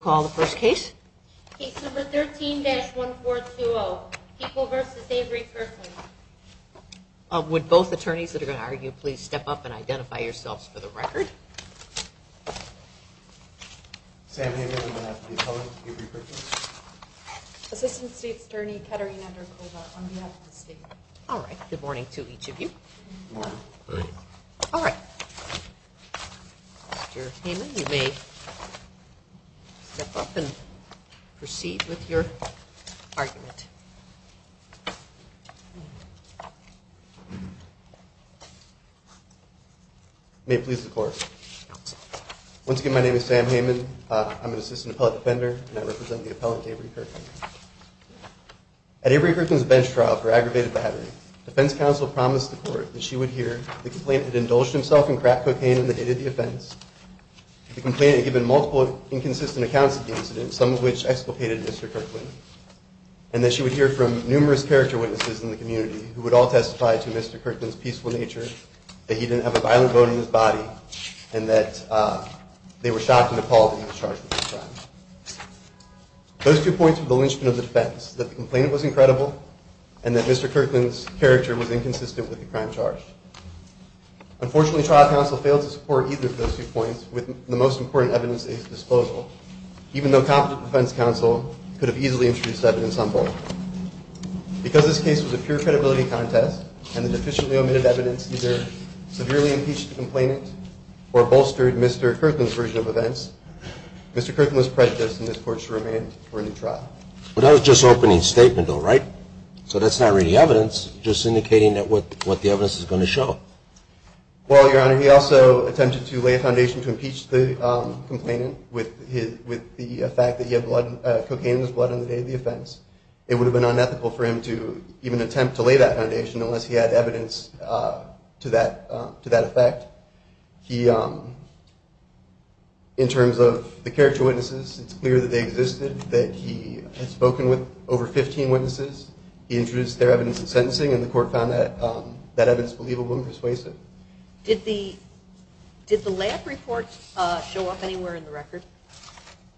call the first case. 13-1420 people versus every person. Would both attorneys that are going to argue, please step up and identify yourselves for the record. Sam, Assistant State's Attorney Kettering. All right. Good morning to each of you. All right. Your name is me. Step up and proceed with your argument. May it please the court. Once again, my name is Sam Heyman. I'm an assistant appellate defender and I represent the appellant, Avery Kirkland. At Avery Kirkland's bench trial for aggravated battery, defense counsel promised the court that she would hear the complaint that indulged himself in crack cocaine in the date of the offense. The complainant had given multiple inconsistent accounts of the incident, some of which explicated Mr. Kirkland, and that she would hear from numerous character witnesses in the community who would all testify to Mr. Kirkland's peaceful nature, that he didn't have a violent vote in his body, and that they were shocked and appalled that he was charged with this crime. Those two points were the linchpin of defense, that the complainant was incredible and that Mr. Kirkland's character was inconsistent with the crime charged. Unfortunately, trial counsel failed to support either of those two points with the most important evidence at his disposal, even though competent defense counsel could have easily introduced evidence on both. Because this case was a pure credibility contest and the deficiently omitted evidence either severely impeached the complainant or bolstered Mr. Kirkland's version of events, Mr. Kirkland was prejudiced and this court should remain for a new trial. But that was just opening statement though, right? So that's not really evidence, just indicating that what the evidence is going to show. Well, Your Honor, he also attempted to lay a foundation to impeach the complainant with the fact that he had cocaine in his blood on the day of the offense. It would have been unethical for him to even attempt to lay that foundation unless he had evidence to that effect. In terms of the character witnesses, it's clear that they existed, that he had spoken with over 15 witnesses. He introduced their evidence of sentencing and the court found that evidence believable and persuasive. Did the lab report show up anywhere in the record?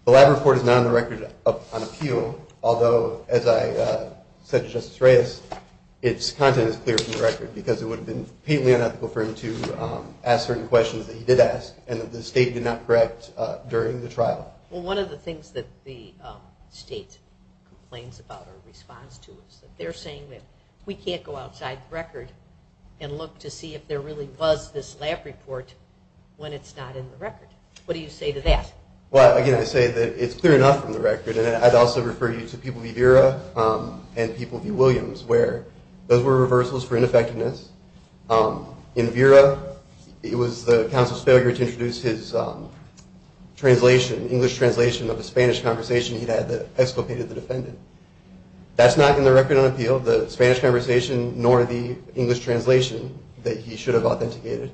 The lab report is not on the record on appeal. Although, as I said to Justice Reyes, its content is clear from the record because it would have been completely unethical for him to ask certain questions that he did ask and that the state did not correct during the trial. Well, one of the things that the state complains about or responds to is that they're saying that we can't go outside the record and look to see if there really was this lab report when it's not in the record. What do you say to that? Well, again, I say that it's clear enough from the record and I'd also refer you to People v. Vera and People v. Williams where those were reversals for ineffectiveness. In Vera, it was the counsel's failure to introduce his had that exculpated the defendant. That's not in the record on appeal, the Spanish conversation nor the English translation that he should have authenticated.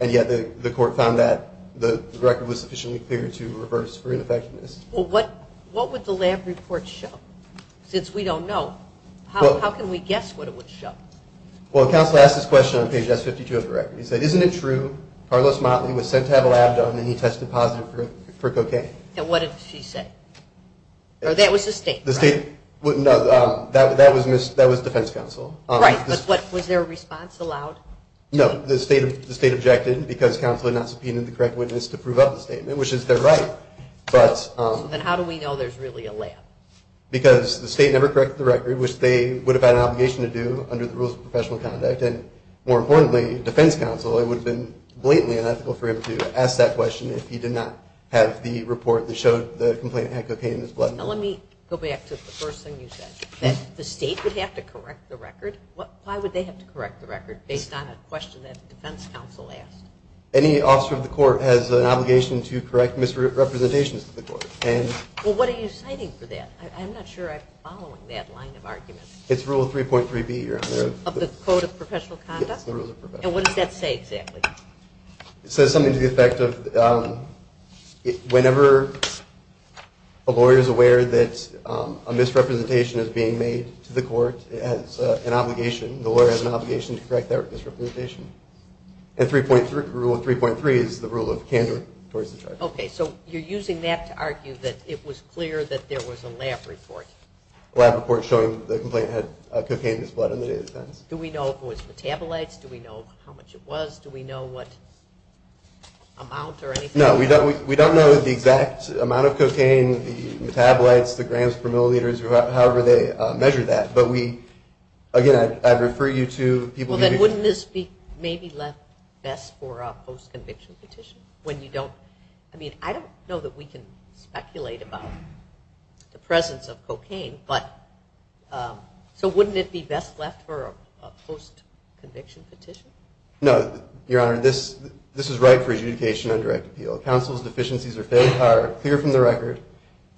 And yet the court found that the record was sufficiently clear to reverse for ineffectiveness. Well, what would the lab report show? Since we don't know, how can we guess what it would show? Well, counsel asked this question on page S52 of the record. He said, isn't it true Carlos Motley was sent to have a lab done and he tested positive for cocaine? And what did she say? Or that was the state? The state wouldn't know, that was defense counsel. Right, but was there a response allowed? No, the state objected because counsel had not subpoenaed the correct witness to prove up the statement, which is their right, but... Then how do we know there's really a lab? Because the state never corrected the record, which they would have had an obligation to do under the rules of professional conduct. And more importantly, defense counsel, it would have been blatantly unethical for him to ask that question if he did not have the report that showed the complainant had cocaine in his blood. Let me go back to the first thing you said, that the state would have to correct the record. Why would they have to correct the record based on a question that the defense counsel asked? Any officer of the court has an obligation to correct misrepresentations to the court. Well, what are you citing for that? I'm not sure I'm following that line of argument. It's Rule 3.3b. Of the Code of Professional Conduct? Yes, the Rules of Professional Conduct. And what does that say exactly? It says something to the effect of whenever a lawyer is aware that a misrepresentation is being made to the court, it has an obligation. The lawyer has an obligation to correct that misrepresentation. And Rule 3.3 is the rule of candor towards the charge. Okay, so you're using that to argue that it was clear that there was a lab report? Lab report showing the complainant had cocaine in his blood on the day of the defense. Do we know if it was metabolites? Do we know how much it was? Do we know what amount or anything? No, we don't know the exact amount of cocaine, the metabolites, the grams per milliliters, or however they measure that. But we, again, I'd refer you to people. Then wouldn't this be maybe left best for a post-conviction petition? When you don't, I mean, I don't know that we can speculate about the presence of cocaine, but so wouldn't it be best left for a post-conviction petition? No, Your Honor, this is right for adjudication and direct appeal. Counsel's deficiencies are clear from the record.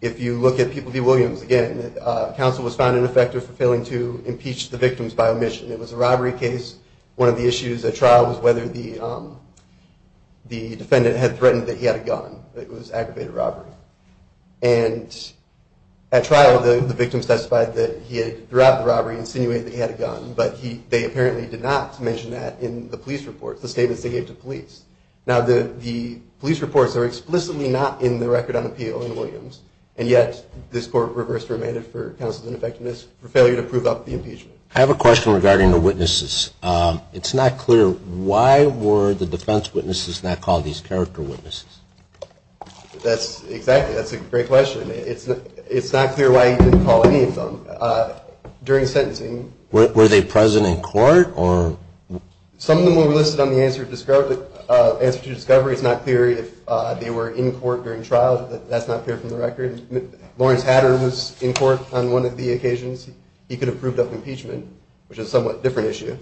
If you look at People v. Williams, again, counsel was found ineffective for failing to impeach the victims by omission. It was a robbery case. One of the issues at trial was whether the defendant had threatened that he had a gun. It was aggravated robbery. And at trial, the victim testified that he had, throughout the robbery, insinuated that he had a gun, but they apparently did not mention that in the police reports, the statements they gave to police. Now, the police reports are explicitly not in the record on People v. Williams, and yet this Court reversed remanded for counsel's ineffectiveness for failure to prove up the impeachment. I have a question regarding the witnesses. It's not clear. Why were the defense witnesses not called these character witnesses? That's exactly, that's a great question. It's not clear why he didn't call any of them. During sentencing, were they present in court or? Some of them were listed on the answer to discovery. It's not clear if they were in court during trial. That's not clear from the record. Lawrence Hatter was in court on one of the occasions. He could have proved up impeachment, which is a somewhat different issue,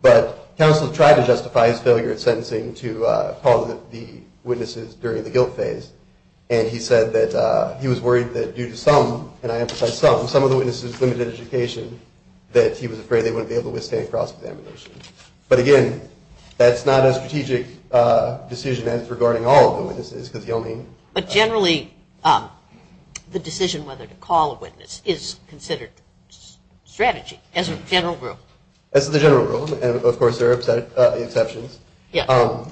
but counsel tried to justify his failure at sentencing to call the witnesses during the guilt phase. And he said that he was worried that due to some, and I emphasize some, some of the witnesses' limited education, that he was afraid they wouldn't be able to withstand cross-examination. But again, that's not a strategic decision as regarding all of the witnesses, because he only. But generally, the decision whether to call a witness is considered strategy as a general rule. As the general rule, and of course, there are exceptions. Yeah.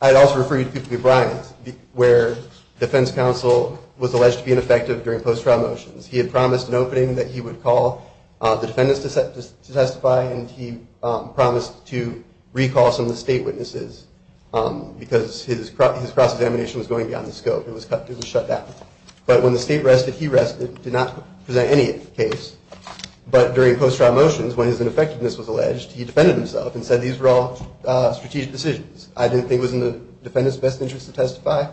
I'd also refer you to Brian's, where defense counsel was alleged to be ineffective during post-trial motions. He had promised an opening that he would call the defendants to testify, and he promised to recall some of the state witnesses, because his cross-examination was going beyond the scope. It was cut, it was shut down. But when the state rested, he rested, did not present any case. But during post-trial motions, when his ineffectiveness was alleged, he defended himself and said these were all strategic decisions. I didn't think it was in the defendant's best interest to testify,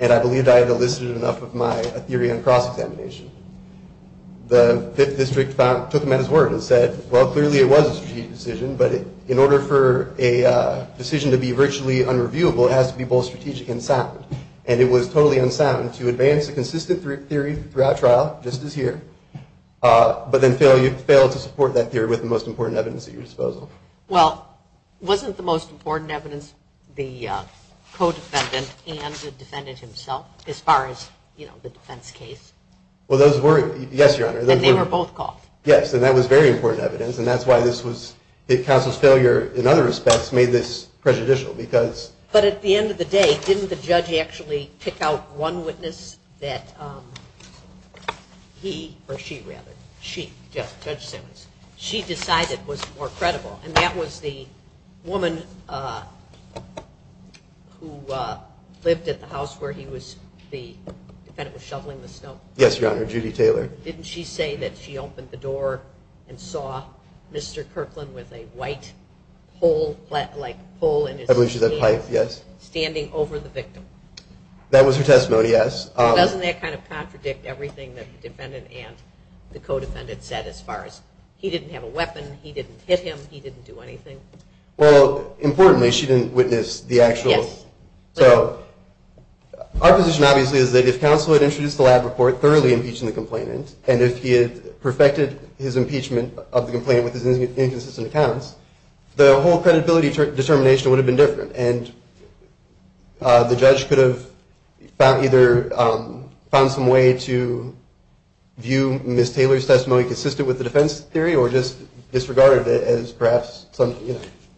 and I believed I had elicited enough of my theory on cross-examination. The Fifth District took him at his word and said, well, clearly it was a strategic decision, but in order for a decision to be virtually unreviewable, it has to be both strategic and sound. And it was totally unsound to advance a consistent theory throughout trial, just as here, but then fail to support that theory with the most important evidence at your disposal. Well, wasn't the most important evidence the co-defendant and the defendant himself, as far as, you know, the defense case? Well, those were, yes, Your Honor. And they were both called? Yes, and that was very important evidence, and that's why this was, the counsel's failure, in other respects, made this prejudicial, because... But at the end of the day, didn't the judge actually pick out one witness that he, or she rather, she, Judge Simmons, she decided was more credible, and that was the woman who lived at the house where he was, the defendant was shoveling the snow? Yes, Your Honor, Judy Taylor. Didn't she say that she opened the door and saw Mr. Kirkland with a white pole, like pole in his hand, standing over the victim? That was her testimony, yes. Doesn't that kind of contradict everything that the defendant and the co-defendant said, as far as, he didn't have a weapon, he didn't hit him, he didn't do anything? Well, importantly, she didn't witness the actual... So our position, obviously, is that if counsel had introduced the lab report, thoroughly impeaching the complainant, and if he had perfected his impeachment of the complainant with his inconsistent accounts, the whole credibility determination would have been different, and the judge could have either found some way to view Ms. Taylor's testimony consistent with the defense theory, or just disregarded it as perhaps...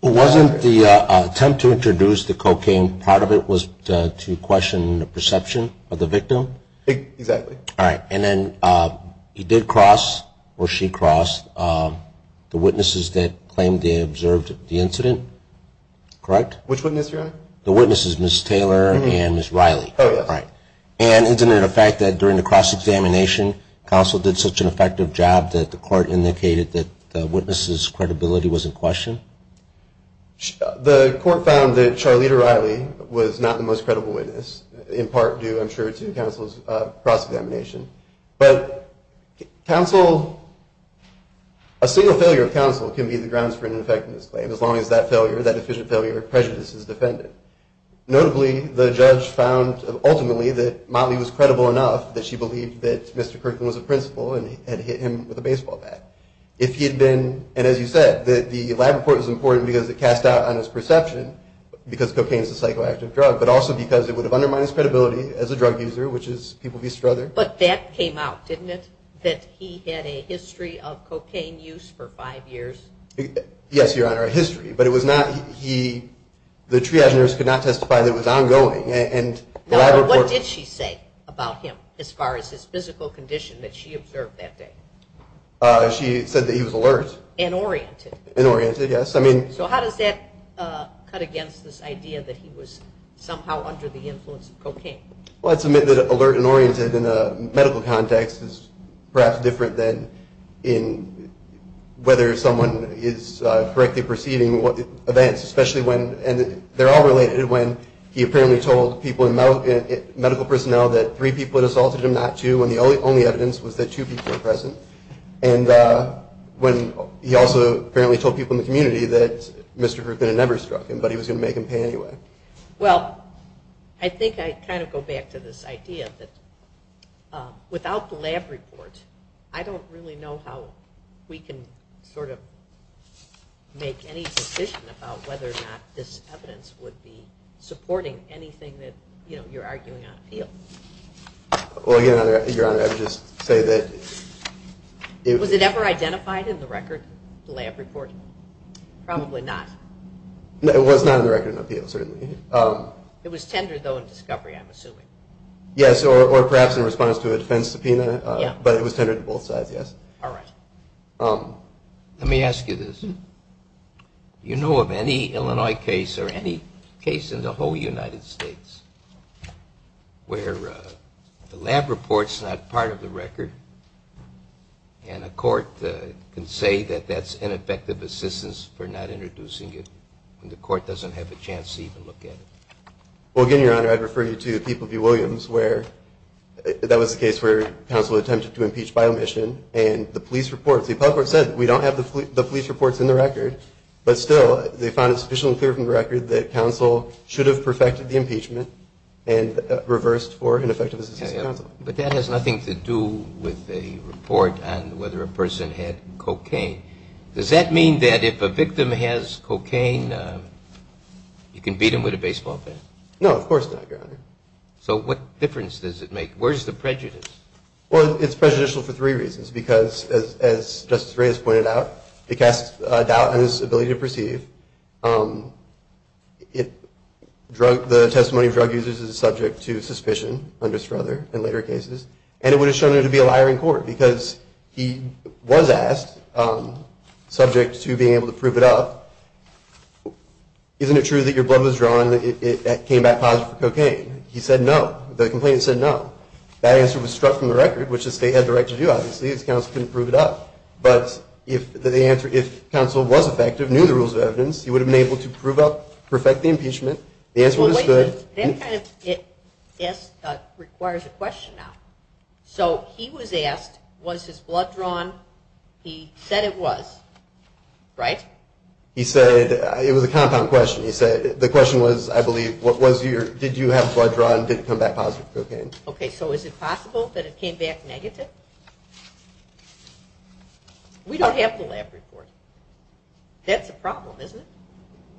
Wasn't the attempt to introduce the cocaine, part of it was to question the perception of the victim? Exactly. All right, and then he did cross, or she crossed, the witnesses that claimed they observed the incident? Correct? Which witness, Your Honor? The witnesses, Ms. Taylor and Ms. Riley. Oh, yes. And isn't it a fact that during the cross-examination, counsel did such an effective job that the court indicated that the witness's credibility was in question? The court found that Charlita Riley was not the most effective witness in counsel's cross-examination. But counsel, a single failure of counsel can be the grounds for an effectiveness claim, as long as that failure, that deficient failure of prejudice is defended. Notably, the judge found ultimately that Motley was credible enough that she believed that Mr. Kirkland was a principal and had hit him with a baseball bat. If he had been, and as you said, that the lab report was important because it cast doubt on his perception because cocaine is a psychoactive drug, but also because it would have undermined his credibility as a drug user, which is people be strother. But that came out, didn't it? That he had a history of cocaine use for five years. Yes, Your Honor, a history, but it was not, he, the triage nurse could not testify that it was ongoing and the lab report. What did she say about him as far as his physical condition that she observed that day? She said that he was alert. And oriented. And oriented, yes. I mean. So how does that cut against this idea that he was somehow under the influence of cocaine? Let's admit that alert and oriented in a medical context is perhaps different than in whether someone is correctly perceiving what events, especially when, and they're all related, when he apparently told people in medical personnel that three people had assaulted him, not two, and the only evidence was that two people were present. And when he also apparently told people in the community that Mr. Kirkland had never struck him, but he was going to make him pay anyway. Well, I think I kind of go back to this idea that without the lab report, I don't really know how we can sort of make any decision about whether or not this evidence would be supporting anything that, you know, you're arguing on appeal. Well, again, Your Honor, I would just say that. Was it ever identified in the record, the lab report? Probably not. It was not in the record of appeal, certainly. It was tendered, though, in discovery, I'm assuming. Yes, or perhaps in response to a defense subpoena, but it was tendered to both sides, yes. All right. Let me ask you this. You know of any Illinois case or any case in the whole United States where the lab report's not part of the record and a court can say that that's an effective assistance for not introducing it when the court doesn't have a chance to even look at it? Well, again, Your Honor, I'd refer you to People v. Williams where that was the case where counsel attempted to impeach by omission and the police report, the appellate court said we don't have the police reports in the record, but still they found it sufficiently clear from the record that counsel should have perfected the impeachment and reversed for an effective assistance to counsel. But that has nothing to do with a report on whether a person had cocaine. Does that mean that if a victim has cocaine, you can beat him with a baseball bat? No, of course not, Your Honor. So what difference does it make? Where's the prejudice? Well, it's prejudicial for three reasons because, as Justice Reyes pointed out, it casts doubt on his ability to perceive. The testimony of drug users is subject to suspicion under Strother in later cases, and it would have shown it to be a liar in court because he was asked subject to being able to prove it up. Isn't it true that your blood was drawn and it came back positive for cocaine? He said no. The complainant said no. That answer was struck from the record, which the state had the right to do, obviously, as counsel couldn't prove it up. But if the answer, if counsel was effective, knew the rules of evidence, he would have been able to prove up, perfect the impeachment. The answer was good. That kind of requires a question now. So he was asked, was his blood drawn? He said it was, right? He said it was a compound question. He said the question was, I believe, what was your, did you have blood drawn, did it come back positive for cocaine? Okay, so is it possible that it came back negative? We don't have the lab report. That's a problem, isn't it?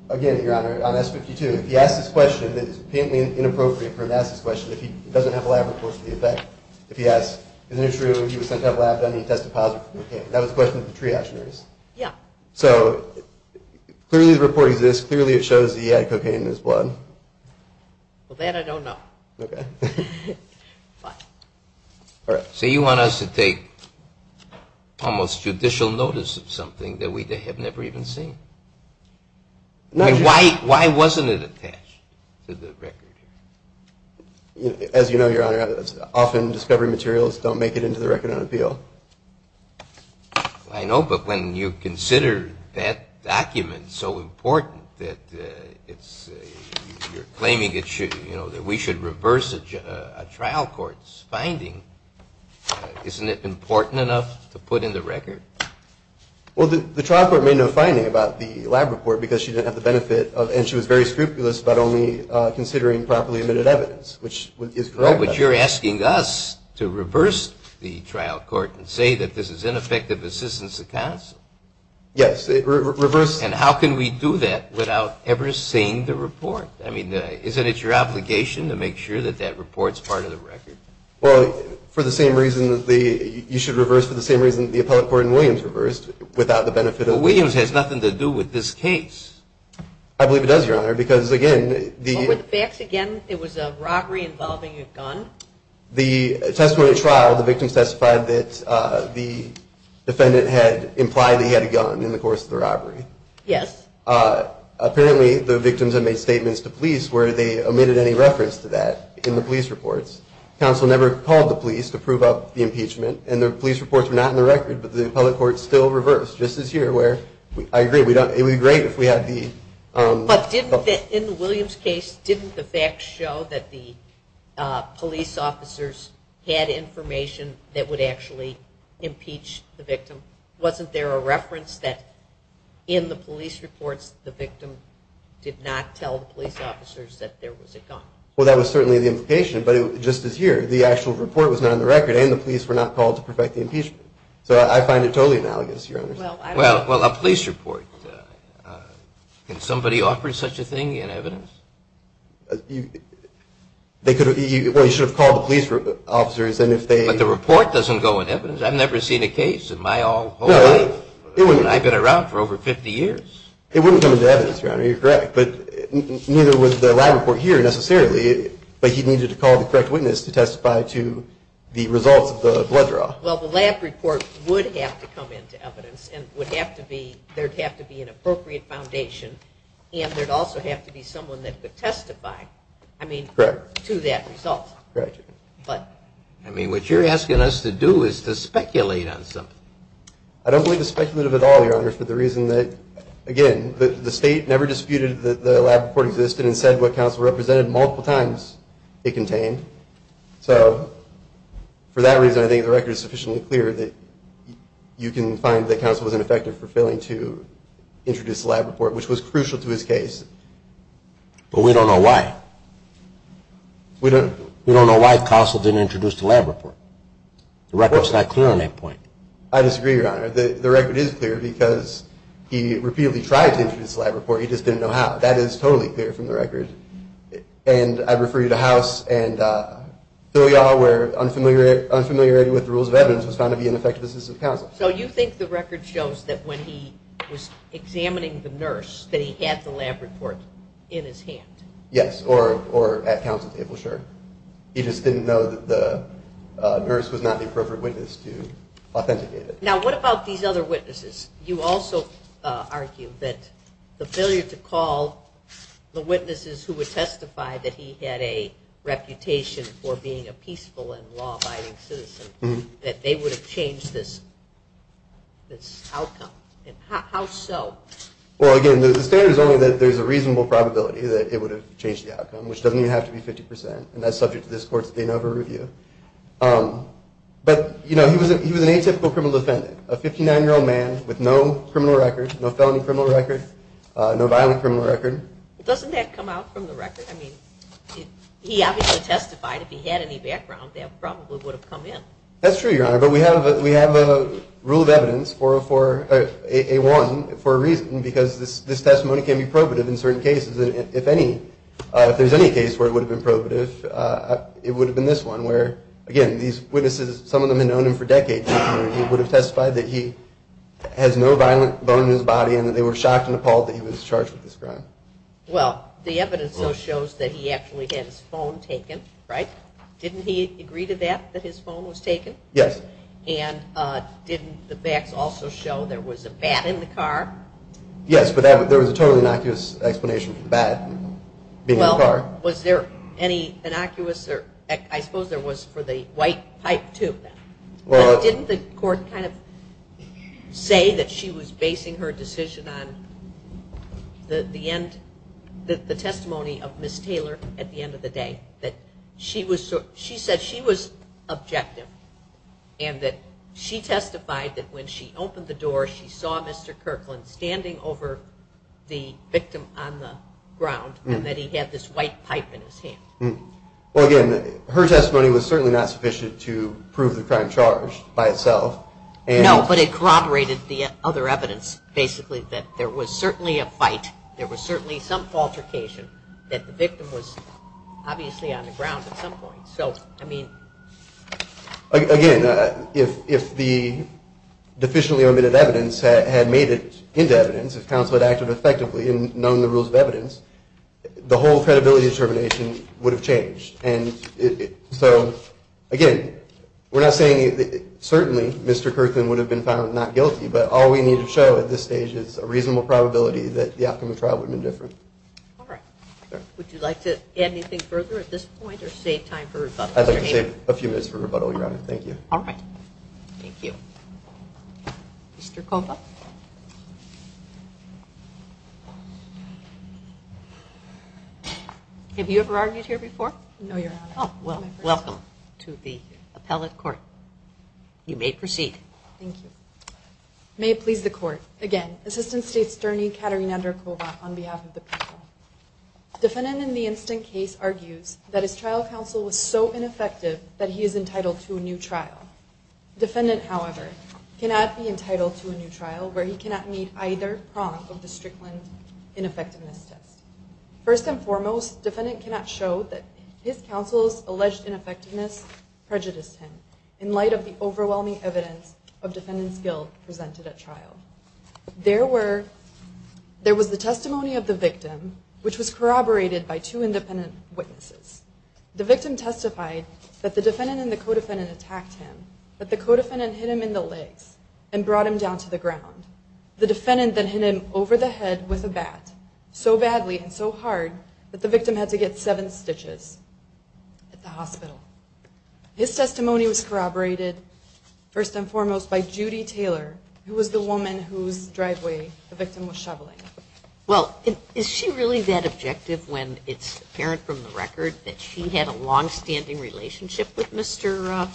Again, Your Honor, on S-52, if he asked this question that is painfully inappropriate for him to ask this question, if he doesn't have a lab report for the effect, if he asks, isn't it true he was sent out lab done and he tested positive for cocaine? That was the question of the triage notice. Yeah. So clearly the report exists, clearly it shows that he had cocaine in his blood. Well, that I don't know. Okay. All right. So you want us to take almost judicial notice of something that we have never even seen? No. Why wasn't it attached to the record? As you know, Your Honor, often discovery materials don't make it into the record on appeal. I know, but when you consider that document so important that it's, you're claiming it should, you know, that we should reverse a trial court's finding, isn't it important enough to put in the record? Well, the trial court made no finding about the lab report because she didn't have the benefit of, and she was very scrupulous, but only considering properly admitted evidence, which is correct. But you're asking us to reverse the trial court and say that this is ineffective assistance to counsel? Yes, reverse. And how can we do that without ever seeing the report? I mean, isn't it your obligation to make sure that that report's part of the record? Well, for the same reason that the, you should reverse for the same reason the appellate court in Williams reversed without the benefit Williams has nothing to do with this case. I believe it does, Your Honor, because again, the facts again, it was a robbery involving a gun. The testimony trial, the victim testified that the defendant had implied that he had a gun in the course of the robbery. Yes. Apparently the victims have made statements to police where they omitted any reference to that in the police reports. Counsel never called the police to prove up the impeachment and the police reports were not in the record, but the appellate court still reversed just as here where I agree we don't, it would be great if we had the, but didn't that in the Williams case, didn't the facts show that the police officers had information that would actually impeach the victim? Wasn't there a reference that in the police reports, the victim did not tell the police officers that there was a gun? Well, that was certainly the implication, but just as here, the actual report was not on the record and the police were not called to perfect the analogous, your honor. Well, well, a police report, can somebody offer such a thing in evidence? They could have, well, you should have called the police officers and if they, but the report doesn't go in evidence. I've never seen a case in my whole life. I've been around for over 50 years. It wouldn't come into evidence, your honor, you're correct, but neither would the lab report here necessarily, but he needed to call the correct witness to testify to the results of the blood draw. Well, the lab report would have to come into evidence and would have to be, there'd have to be an appropriate foundation and there'd also have to be someone that could testify, I mean, to that result. But I mean, what you're asking us to do is to speculate on something. I don't believe the speculative at all, your honor, for the reason that, again, the state never disputed that the lab report existed and said what counsel represented multiple times it contained. So for that reason, I think the record is sufficiently clear that you can find that counsel was ineffective for failing to introduce the lab report, which was crucial to his case. But we don't know why. We don't know why counsel didn't introduce the lab report. The record's not clear on that point. I disagree, your honor. The record is clear because he repeatedly tried to introduce the lab report, he just didn't know how. That is totally clear from the record. And I refer you to House and we are where unfamiliar unfamiliarity with the rules of evidence was found to be an ineffectiveness of counsel. So you think the record shows that when he was examining the nurse that he had the lab report in his hand? Yes, or at counsel's table, sure. He just didn't know that the nurse was not the appropriate witness to authenticate it. Now, what about these other witnesses? You also argue that the failure to call the witnesses who would testify that he had a reputation for being a peaceful and law-abiding citizen, that they would have changed this outcome. How so? Well, again, the standard is only that there's a reasonable probability that it would have changed the outcome, which doesn't even have to be 50%. And that's subject to this court's inoverview. But, you know, he was an atypical criminal defendant, a 59-year-old man with no criminal record, no felony criminal record, no violent criminal record. Doesn't that come out from the he obviously testified if he had any background that probably would have come in. That's true, Your Honor, but we have we have a rule of evidence for a one for a reason, because this testimony can be probative in certain cases. And if any, if there's any case where it would have been probative, it would have been this one where again, these witnesses, some of them had known him for decades. He would have testified that he has no violent bone in his body and that they were shocked and appalled that he was charged with this crime. Well, the evidence also shows that he actually had his phone taken, right? Didn't he agree to that, that his phone was taken? Yes. And didn't the facts also show there was a bat in the car? Yes, but there was a totally innocuous explanation for the bat being in the car. Well, was there any innocuous or I suppose there was for the white pipe too. Well, didn't the court kind of say that she was basing her decision on the end, the testimony of Ms. Taylor at the end of the day that she was, she said she was objective and that she testified that when she opened the door, she saw Mr. Kirkland standing over the victim on the ground and that he had this white pipe in his hand. Well, again, her testimony was certainly not sufficient to prove the crime charged by itself. No, but it corroborated the other evidence basically that there was certainly a fight. There was certainly some altercation that the victim was obviously on the ground at some point. So I mean, again, if the deficiently omitted evidence had made it into evidence, if counsel had acted effectively and known the rules of evidence, the whole credibility determination would have changed. And so again, we're not saying that certainly Mr. Kirkland would have been found not guilty, but all we need to show at this stage is a reasonable probability that the outcome of All right. Would you like to add anything further at this point or save time for rebuttal? I'd like to save a few minutes for rebuttal, Your Honor. Thank you. All right. Thank you. Mr. Kovach. Have you ever argued here before? No, Your Honor. Oh, well, welcome to the appellate court. You may proceed. Thank you. May it please the court. Again, Assistant State's Attorney, Katarina Kovach on behalf of the people. Defendant in the instant case argues that his trial counsel was so ineffective that he is entitled to a new trial. Defendant, however, cannot be entitled to a new trial where he cannot meet either prong of the Strickland ineffectiveness test. First and foremost, defendant cannot show that his counsel's alleged ineffectiveness prejudiced him in light of the overwhelming evidence of defendant's guilt presented at trial. There was the testimony of the victim, which was corroborated by two independent witnesses. The victim testified that the defendant and the co-defendant attacked him, that the co-defendant hit him in the legs and brought him down to the ground. The defendant then hit him over the head with a bat so badly and so hard that the victim had to get seven stitches at the hospital. His testimony was Judy Taylor, who was the woman whose driveway the victim was shoveling. Well, is she really that objective when it's apparent from the record that she had a long-standing relationship with Mr.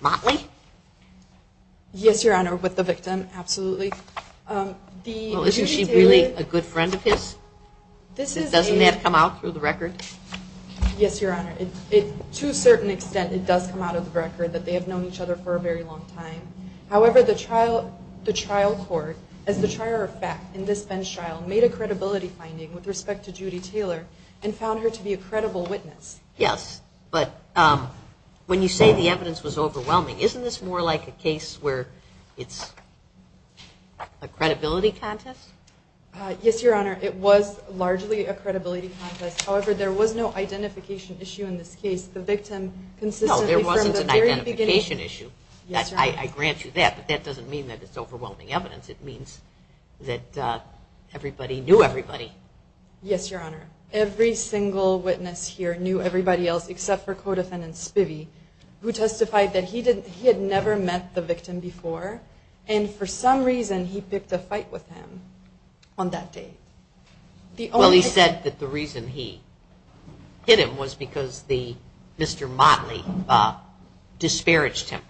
Motley? Yes, Your Honor, with the victim. Absolutely. Isn't she really a good friend of his? Doesn't that come out through the record? Yes, Your Honor. To a certain extent, it does come out of the record that they have known each other for a very long time. However, the trial court, as the trier of fact in this bench trial, made a credibility finding with respect to Judy Taylor and found her to be a credible witness. Yes, but when you say the evidence was overwhelming, isn't this more like a case where it's a credibility contest? Yes, Your Honor. It was largely a credibility contest. However, there was no identification issue in this case. The victim consistently from the very beginning... Yes, Your Honor. I grant you that, but that doesn't mean that it's overwhelming evidence. It means that everybody knew everybody. Yes, Your Honor. Every single witness here knew everybody else except for Codefendant Spivey, who testified that he had never met the victim before and for some reason he picked a fight with him on that day. Well, he said that the reason he hit him was because Mr. Motley disparaged him.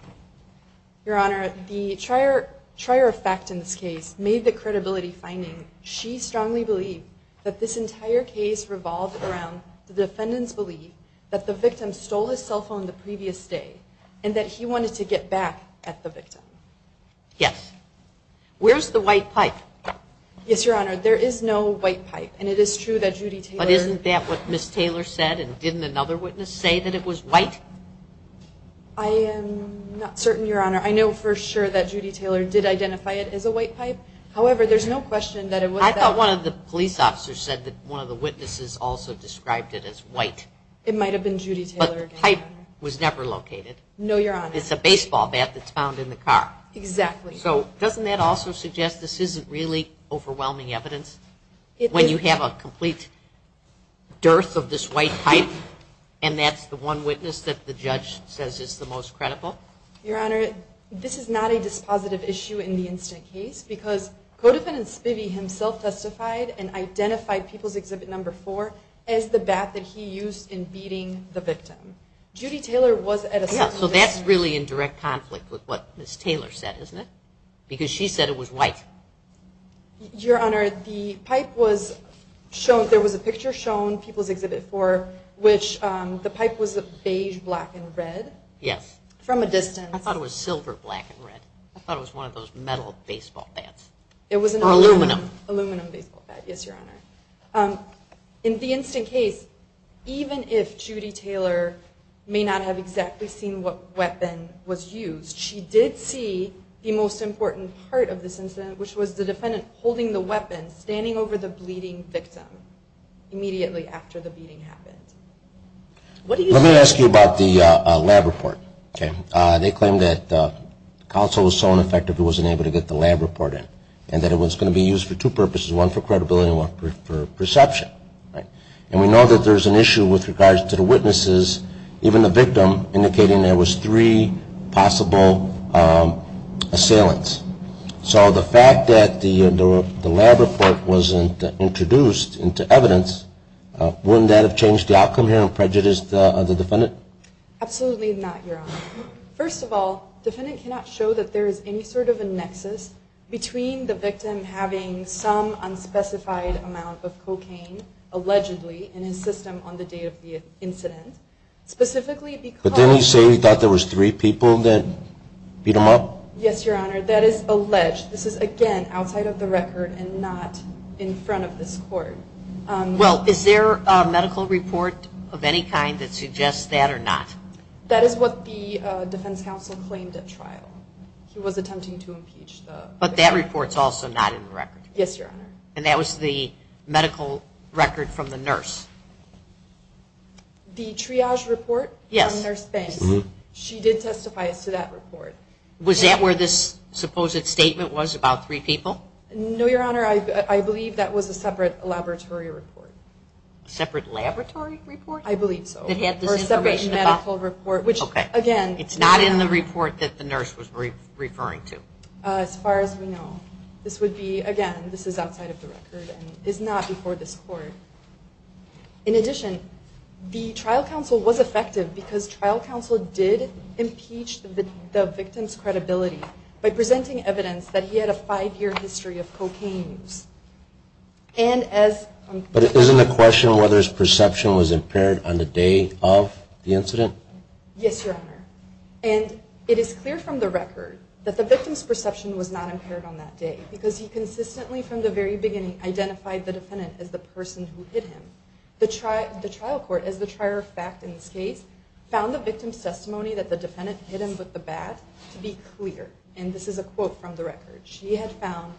Your Honor, the trier of fact in this case made the credibility finding. She strongly believed that this entire case revolved around the defendant's belief that the victim stole his cell phone the previous day and that he wanted to get back at the victim. Yes. Where's the white pipe? Yes, Your Honor. There is no white pipe and it is true that Judy Taylor... But isn't that what Ms. Taylor said and didn't another witness say that it was white? I am not certain, Your Honor. I know for sure that Judy Taylor did identify it as a white pipe. However, there's no question that it was. I thought one of the police officers said that one of the witnesses also described it as white. It might have been Judy Taylor. But the pipe was never located. No, Your Honor. It's a baseball bat that's found in the car. Exactly. So doesn't that also suggest this isn't really overwhelming evidence? When you have a complete dearth of this white pipe and that's the one witness that the judge says is the most credible? Your Honor, this is not a dispositive issue in the instant case because Codefendant Spivey himself testified and identified People's Exhibit Number 4 as the bat that he used in beating the victim. Judy Taylor was at a... So that's really in direct conflict with what Ms. Taylor said, isn't it? Because she said it was white. Your Honor, the pipe was shown, there was a picture shown, People's Exhibit 4, which the pipe was beige, black, and red. Yes. From a distance. I thought it was silver, black, and red. I thought it was one of those metal baseball bats. It was an aluminum. Aluminum baseball bat. Yes, Your Honor. In the instant case, even if Judy Taylor may not have exactly seen what weapon was used, she did see the most important part of this incident, which was the defendant holding the weapon, standing over the bleeding victim immediately after the beating happened. What do I ask you about the lab report? Okay. They claim that counsel was so ineffective it wasn't able to get the lab report in, and that it was going to be used for two purposes, one for credibility and one for perception, right? And we know that there's an issue with regards to the witnesses, even the victim, indicating there was three possible assailants. So the fact that the lab report wasn't introduced into evidence, wouldn't that have changed the outcome here and the defendant? Absolutely not, Your Honor. First of all, the defendant cannot show that there is any sort of a nexus between the victim having some unspecified amount of cocaine allegedly in his system on the day of the incident, specifically because... But didn't he say he thought there was three people that beat him up? Yes, Your Honor. That is alleged. This is, again, outside of the record and not in front of this court. Well, is there a medical report of any kind that suggests that or not? That is what the Defense Council claimed at trial. He was attempting to impeach the... But that report's also not in the record? Yes, Your Honor. And that was the medical record from the nurse? The triage report? Yes. From Nurse Banks. She did testify as to that report. Was that where this supposed statement was about three people? No, Your Honor. I believe that was a separate laboratory report. Separate laboratory report? I believe so. That had this information about... A separate medical report, which, again... It's not in the report that the nurse was referring to? As far as we know. This would be, again, this is outside of the record and is not before this court. In addition, the trial counsel was effective because trial counsel did impeach the victim's credibility by presenting evidence that he had a five-year history of cocaine use. And as... But isn't the question whether his perception was impaired on the day of the incident? Yes, Your Honor. And it is clear from the record that the victim's perception was not impaired on that day because he consistently, from the very beginning, identified the defendant as the person who hit him. The trial court, as the trier of fact in this case, found the victim's testimony that the defendant hit him with the bat to be clear. And this is a quote from the record. She had found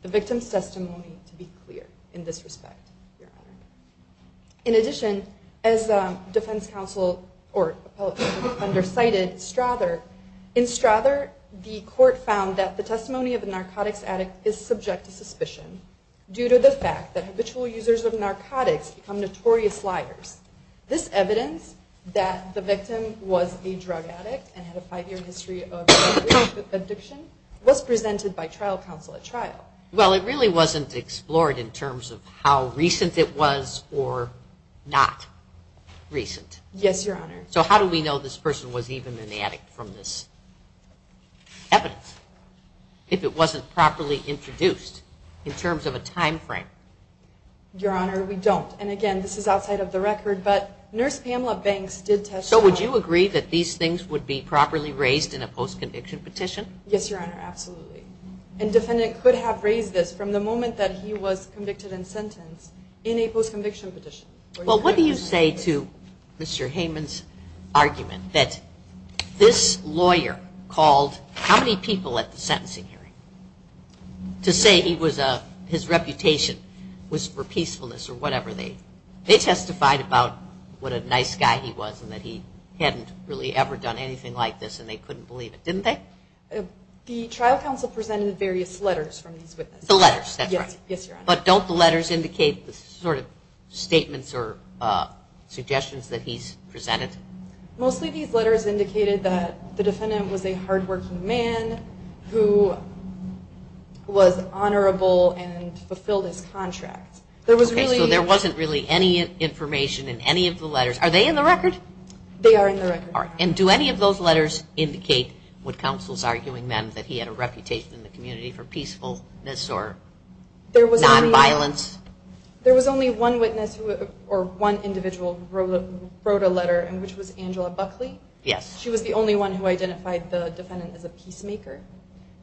the victim's testimony to be clear in this respect, Your Honor. In addition, as defense counsel or appellate under cited Strather, in Strather, the court found that the testimony of a narcotics addict is subject to suspicion due to the fact that habitual users of narcotics become notorious liars. This evidence that the victim was a drug addict and had a five-year history of drug addiction was presented by trial counsel at trial. Well, it really wasn't explored in terms of how recent it was or not recent. Yes, Your Honor. So how do we know this person was even an addict from this evidence if it wasn't properly introduced in terms of a time frame? Your Honor, we don't. And again, this is outside of the record, but Nurse Pamela Banks did testify. So would you agree that these things would be properly raised in a post-conviction petition? Yes, Your Honor, absolutely. And defendant could have raised this from the moment that he was convicted and sentenced in a post-conviction petition. Well, what do you say to Mr. Heyman's argument that this lawyer called how many people at the sentencing hearing to say he was a, his reputation was for peacefulness or whatever they, they testified about what a nice guy he was and that he hadn't really ever done anything like this and they couldn't believe it, didn't they? The trial counsel presented various letters from these witnesses. The letters, that's right. Yes, Your Honor. But don't the letters indicate the sort of statements or suggestions that he's presented? Mostly these letters indicated that the defendant was a hardworking man who was honorable and fulfilled his contract. There was really... Okay, so there wasn't really any information in any of the letters. Are they in the record? They are in the record. All right. And do any of those letters indicate what counsel is arguing then, that he had a reputation in the sense of peacefulness or non-violence? There was only one witness or one individual who wrote a letter and which was Angela Buckley. Yes. She was the only one who identified the defendant as a peacemaker,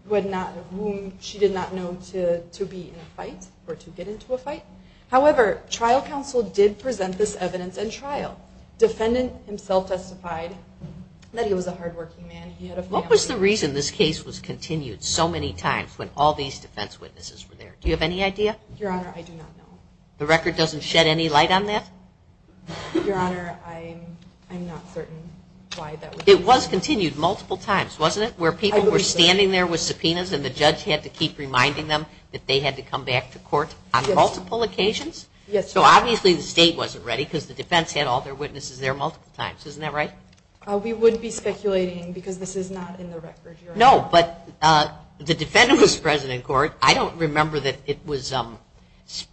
who had not, whom she did not know to be in a fight or to get into a fight. However, trial counsel did present this evidence in trial. Defendant himself testified that he was a hardworking man. He had a family... What was the reason this case was continued so many times when all these defense witnesses were there? Do you have any idea? Your Honor, I do not know. The record doesn't shed any light on that? Your Honor, I'm not certain why that was... It was continued multiple times, wasn't it? Where people were standing there with subpoenas and the judge had to keep reminding them that they had to come back to court on multiple occasions? Yes. So obviously the state wasn't ready because the defense had all their witnesses there multiple times. Isn't that right? We wouldn't be speculating because this is not in the record, Your Honor. No, but the defendant was present in court. I don't remember that it was Spivey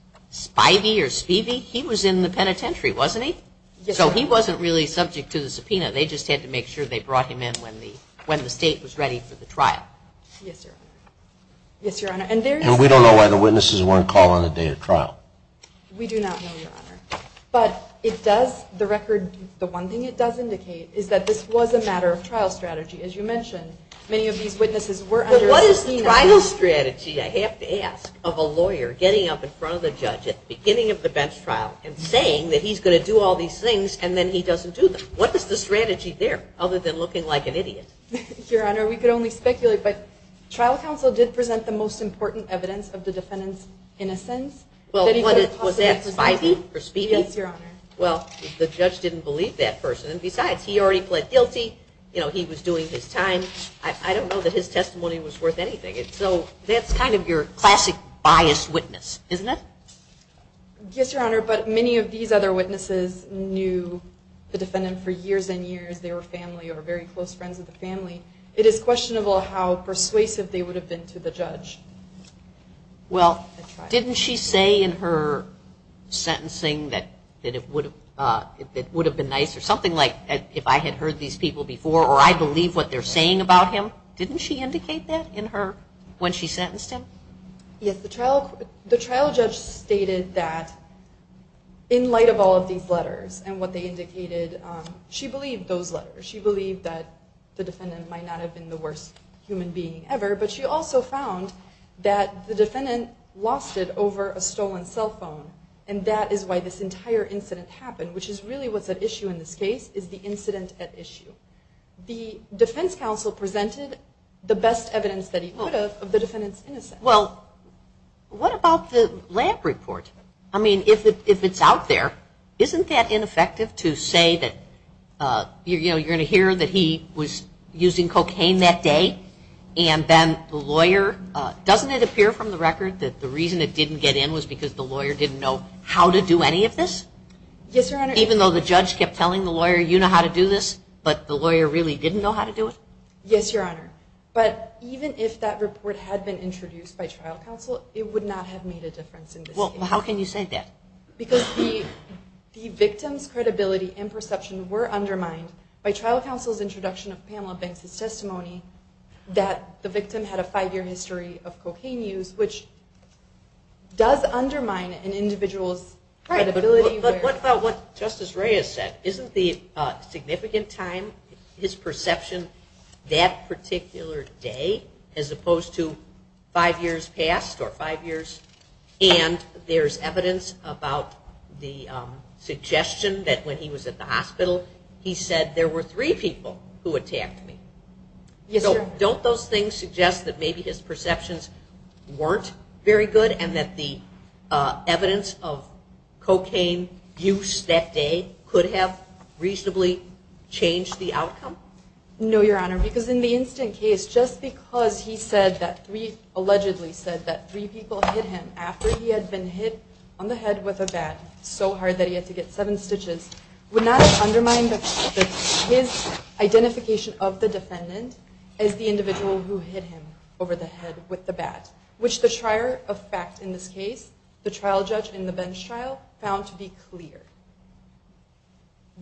or Spivey. He was in the penitentiary, wasn't he? So he wasn't really subject to the subpoena. They just had to make sure they brought him in when the state was ready for the trial. Yes, Your Honor. Yes, Your Honor. And we don't know why the witnesses weren't called on the day of trial. We do not know, Your Honor. But it does, the record, the one thing it does indicate is that this was a matter of trial strategy. As you mentioned, many of these witnesses were under subpoena. But what is the trial strategy, I have to ask, of a lawyer getting up in front of the judge at the beginning of the bench trial and saying that he's going to do all these things and then he doesn't do them? What is the strategy there, other than looking like an idiot? Your Honor, we could only speculate, but trial counsel did present the most important evidence of the defendant's innocence. Was that Spivey or Spivey? Yes, Your Honor. Well, the judge didn't believe that person. And besides, he already pled guilty. You know, he was doing his time. I don't know that his testimony was worth anything. So that's kind of your classic biased witness, isn't it? Yes, Your Honor. But many of these other witnesses knew the defendant for years and years. They were family or very close friends of the family. It is questionable how persuasive they would have been to the judge. Well, didn't she say in her sentencing that it would have been nice, or something like, if I had heard these people before, or I believe what they're saying about him? Didn't she indicate that in her, when she sentenced him? Yes, the trial judge stated that in light of all of these letters and what they indicated, she believed those letters. She believed that the defendant might not have been the worst human being ever, but she also found that the defendant lost it over a stolen cell phone. And that is why this entire incident happened, which is really what's at issue in this case, is the incident at issue. The defense counsel presented the best evidence that he could have of the defendant's innocence. Well, what about the lab report? I mean, if it's out there, isn't that ineffective to say that, you know, you're going to hear that he was using cocaine that day, and then the lawyer, doesn't it appear from the record that the reason it didn't get in was because the lawyer didn't know how to do any of this? Yes, Your Honor. Even though the judge kept telling the lawyer, you know how to do this, but the lawyer really didn't know how to do it? Yes, Your Honor. But even if that report had been introduced by trial counsel, it would not have made a difference in this case. Well, how can you say that? Because the victim's credibility and perception were undermined by trial counsel's introduction of Pamela Banks' testimony that the victim had a five-year history of cocaine use, which does undermine an individual's credibility. And as Ray has said, isn't the significant time, his perception that particular day, as opposed to five years past or five years, and there's evidence about the suggestion that when he was at the hospital, he said there were three people who attacked me. Yes, sir. So don't those things suggest that maybe his perceptions weren't very good and that the evidence of cocaine use that day could have reasonably changed the outcome? No, Your Honor, because in the instant case, just because he said that three, allegedly said that three people hit him after he had been hit on the head with a bat so hard that he had to get seven stitches, would not have undermined his identification of the defendant as the individual who hit him over the head with the bat, which the trier of fact in this case, the trial judge in the bench trial, found to be clear.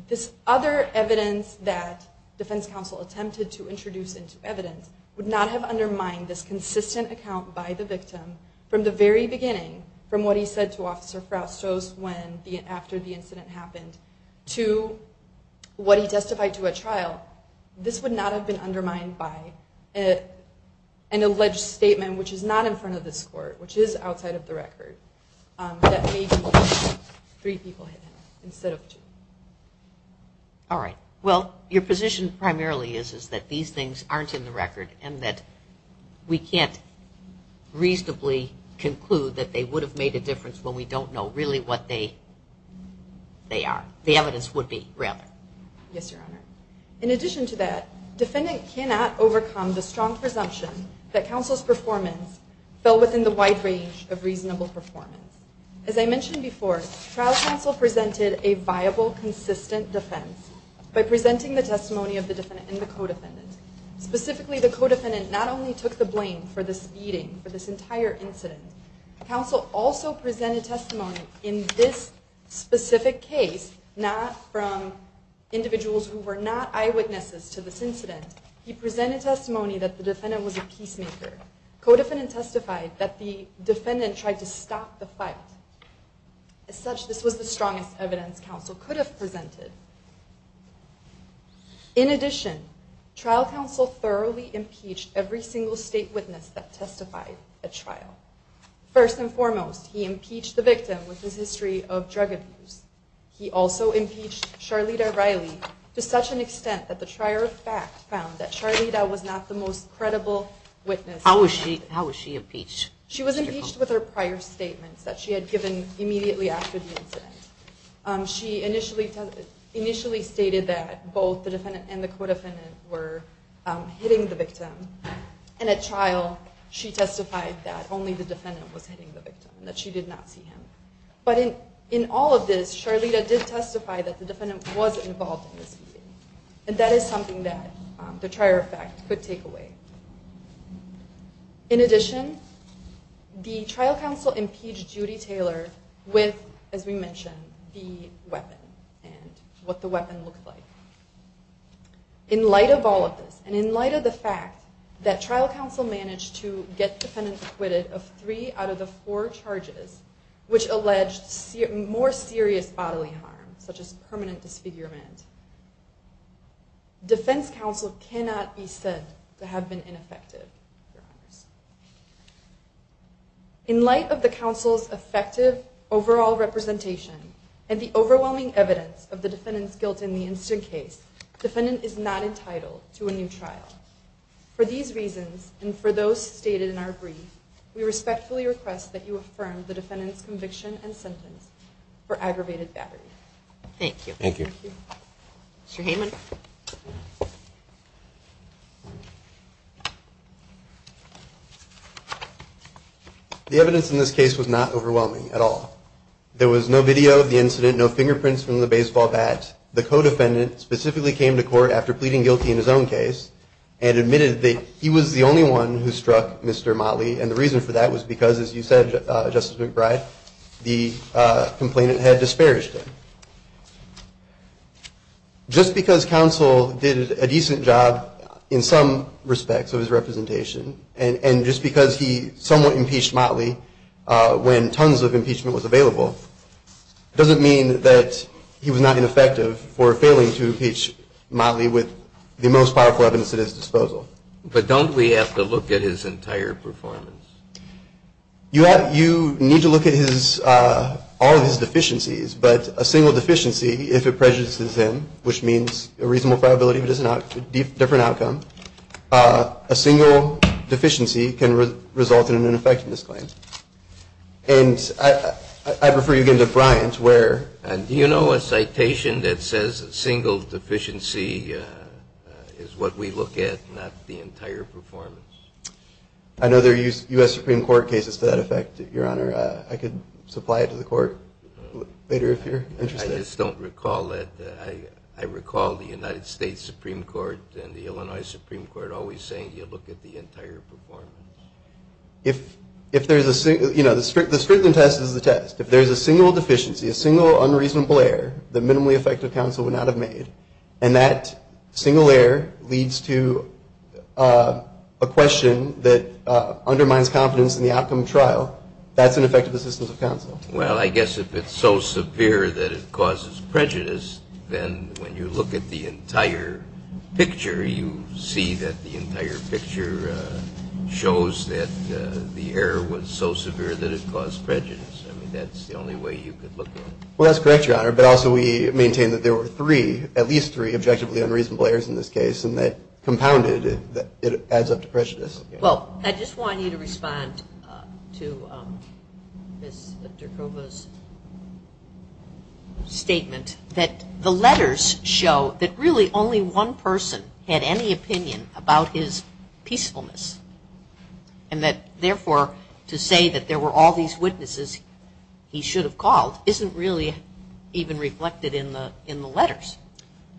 This other evidence that defense counsel attempted to introduce into evidence would not have undermined this consistent account by the victim from the very beginning from what he said to Officer Frasco's when the after the incident happened to what he testified to a trial. This would not have been undermined by an alleged statement, which is not in front of this court, which is outside of the record, that maybe three people hit him instead of two. All right. Well, your position primarily is is that these things aren't in the record and that we can't reasonably conclude that they would have made a difference when we don't know really what they are, the evidence would be rather. Yes, Your Honor. In addition to that, defendant cannot overcome the strong presumption that in the wide range of reasonable performance, as I mentioned before, trial counsel presented a viable, consistent defense by presenting the testimony of the defendant and the co-defendant. Specifically, the co-defendant not only took the blame for this beating for this entire incident, counsel also presented testimony in this specific case, not from individuals who were not eyewitnesses to this incident. He presented testimony that the defendant was a peacemaker. Co-defendant testified that the defendant tried to stop the fight. As such, this was the strongest evidence counsel could have presented. In addition, trial counsel thoroughly impeached every single state witness that testified at trial. First and foremost, he impeached the victim with his history of drug abuse. He also impeached Charlita Riley to such an extent that the trier of fact found that Charlita was not the most credible witness. How was she impeached? She was impeached with her prior statements that she had given immediately after the incident. She initially stated that both the defendant and the co-defendant were hitting the victim, and at trial she testified that only the defendant was hitting the victim, that she did not see him. But in all of this, Charlita did testify that the defendant was involved in this beating, and that is something that the trier of fact could take away. In addition, the trial counsel impeached Judy Taylor with, as we mentioned, the weapon and what the weapon looked like. In light of all of this, and in light of the fact that trial counsel managed to get defendants acquitted of three out of the four charges which alleged more serious bodily harm, such as permanent disfigurement, defense counsel cannot be said to have been ineffective, Your Honors. In light of the counsel's effective overall representation and the overwhelming evidence of the defendant's guilt in the instant case, defendant is not entitled to a new trial. For these reasons, and for those stated in our brief, we respectfully request that you affirm the defendant's conviction and sentence for aggravated battery. Thank you. Mr. Heyman. The evidence in this case was not overwhelming at all. There was no video of the incident, no fingerprints from the baseball bat. The co-defendant specifically came to court after pleading guilty in his own case and admitted that he was the only one who struck Mr. Motley, and the reason for that was because, as you said, Justice McBride, the complainant had disparaged him. Just because counsel did a decent job in some respects of his representation, and just because he somewhat impeached Motley when tons of impeachment was available, doesn't mean that he was not ineffective for failing to impeach Motley with the most powerful evidence at his disposal. But don't we have to look at his entire performance? You need to look at all of his performance. A single deficiency, if it prejudices him, which means a reasonable probability that it is a different outcome, a single deficiency can result in an ineffectiveness claim. And I refer you again to Bryant, where... And do you know a citation that says a single deficiency is what we look at, not the entire performance? I know there are U.S. Supreme Court cases to that effect, Your Honor. I could supply it to the Court later if you're interested. I just don't recall it. I recall the United States Supreme Court and the Illinois Supreme Court always saying you look at the entire performance. If there's a single, you know, the Strickland test is the test. If there's a single deficiency, a single unreasonable error that minimally effective counsel would not have made, and that single error leads to a question that undermines confidence in the outcome trial, that's an effective assistance of counsel. Well, I guess if it's so severe that it causes prejudice, then when you look at the entire picture, you see that the entire picture shows that the error was so severe that it caused prejudice. I mean, that's the only way you could look at it. Well, that's correct, Your Honor, but also we maintain that there were three, at least three, objectively unreasonable errors in this case, and that compounded it adds up to prejudice. Well, I just want you to respond to Ms. Derkova's statement that the letters show that really only one person had any opinion about his peacefulness, and that therefore to say that there were all these witnesses he should have called isn't really even reflected in the letters.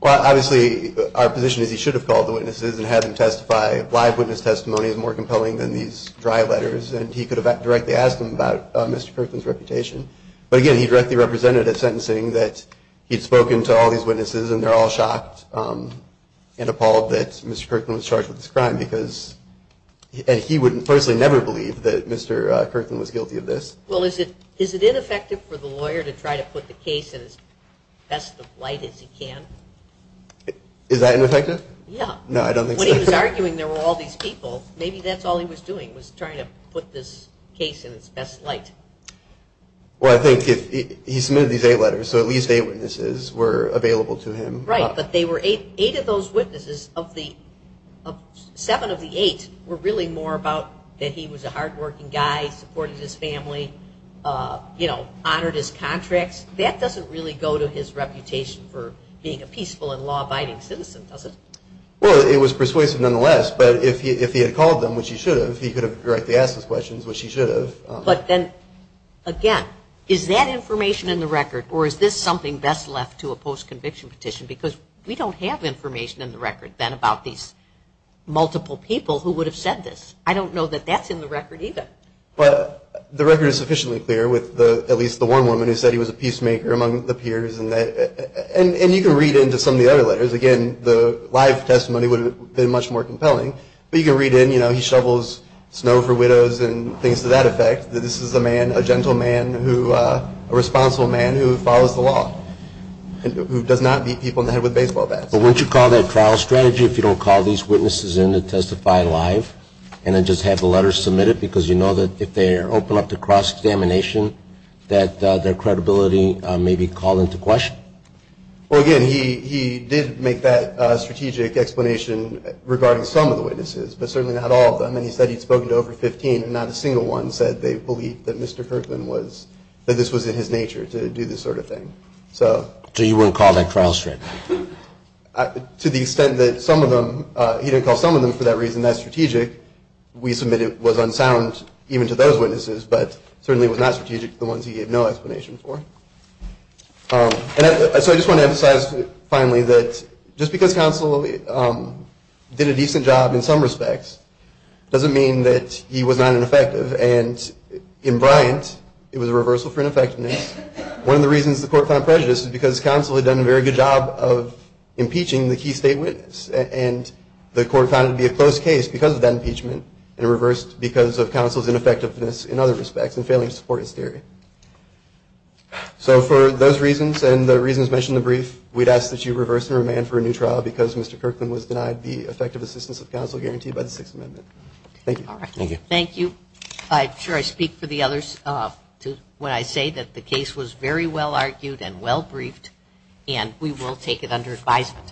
Well, obviously our position is he should have called the witnesses and had them testify. Live witness testimony is more compelling than these dry letters, and he could have directly asked them about Mr. Kirkland's reputation. But again, he directly represented a sentencing that he'd spoken to all these witnesses, and they're all shocked and appalled that Mr. Kirkland was charged with this crime because, and he would personally never believe that Mr. Kirkland was guilty of this. Well, is it ineffective for the lawyer to try to put the case in as best of light as he can? Is that ineffective? Yeah. No, I don't think so. When he was arguing there were all these people, maybe that's all he was doing, was trying to put this case in its best light. Well, I think if he submitted these eight letters, so at least eight witnesses were available to him. Right, but they were eight, eight of those witnesses of the, seven of the eight were really more about that he was a hard-working guy, supported his family, you know, honored his contracts. That doesn't really go to his reputation for being a peaceful and law-abiding citizen, does it? Well, it was persuasive nonetheless, but if he had called them, which he should have, he could have directly asked those questions, which he should have. But then, again, is that information in the record, or is this something best left to a post-conviction petition? Because we don't have information in the record then about these multiple people who would have said this. I don't know that that's in the record either. But the record is sufficiently clear with the, at least the one woman who said he was a peacemaker among the peers and that, and you can read into some of the other letters. Again, the live testimony would have been much more compelling, but you can read in, you know, shovels snow for widows and things to that effect, that this is a man, a gentle man who, a responsible man who follows the law, who does not beat people in the head with baseball bats. But wouldn't you call that trial strategy if you don't call these witnesses in to testify live, and then just have the letters submitted because you know that if they open up to cross-examination, that their credibility may be called into question? Well, again, he did make that strategic explanation regarding some of the witnesses, and then he said he'd spoken to over 15, and not a single one said they believed that Mr. Kirkland was, that this was in his nature to do this sort of thing. So you wouldn't call that trial strategy? To the extent that some of them, he didn't call some of them for that reason, that's strategic. We submit it was unsound even to those witnesses, but certainly was not strategic to the ones he gave no explanation for. And so I just want to emphasize finally that just because counsel did a decent job in some respects, doesn't mean that he was not ineffective. And in Bryant, it was a reversal for ineffectiveness. One of the reasons the court found prejudice is because counsel had done a very good job of impeaching the key state witness, and the court found it to be a close case because of that impeachment, and reversed because of counsel's ineffectiveness in other respects, and failing to support his theory. So for those reasons, and the reasons mentioned in the brief, we'd ask that you reverse and remand for a new trial because Mr. Kirkland was denied the assistance of counsel guaranteed by the Sixth Amendment. Thank you. Thank you. I'm sure I speak for the others when I say that the case was very well argued and well briefed, and we will take it under advisement.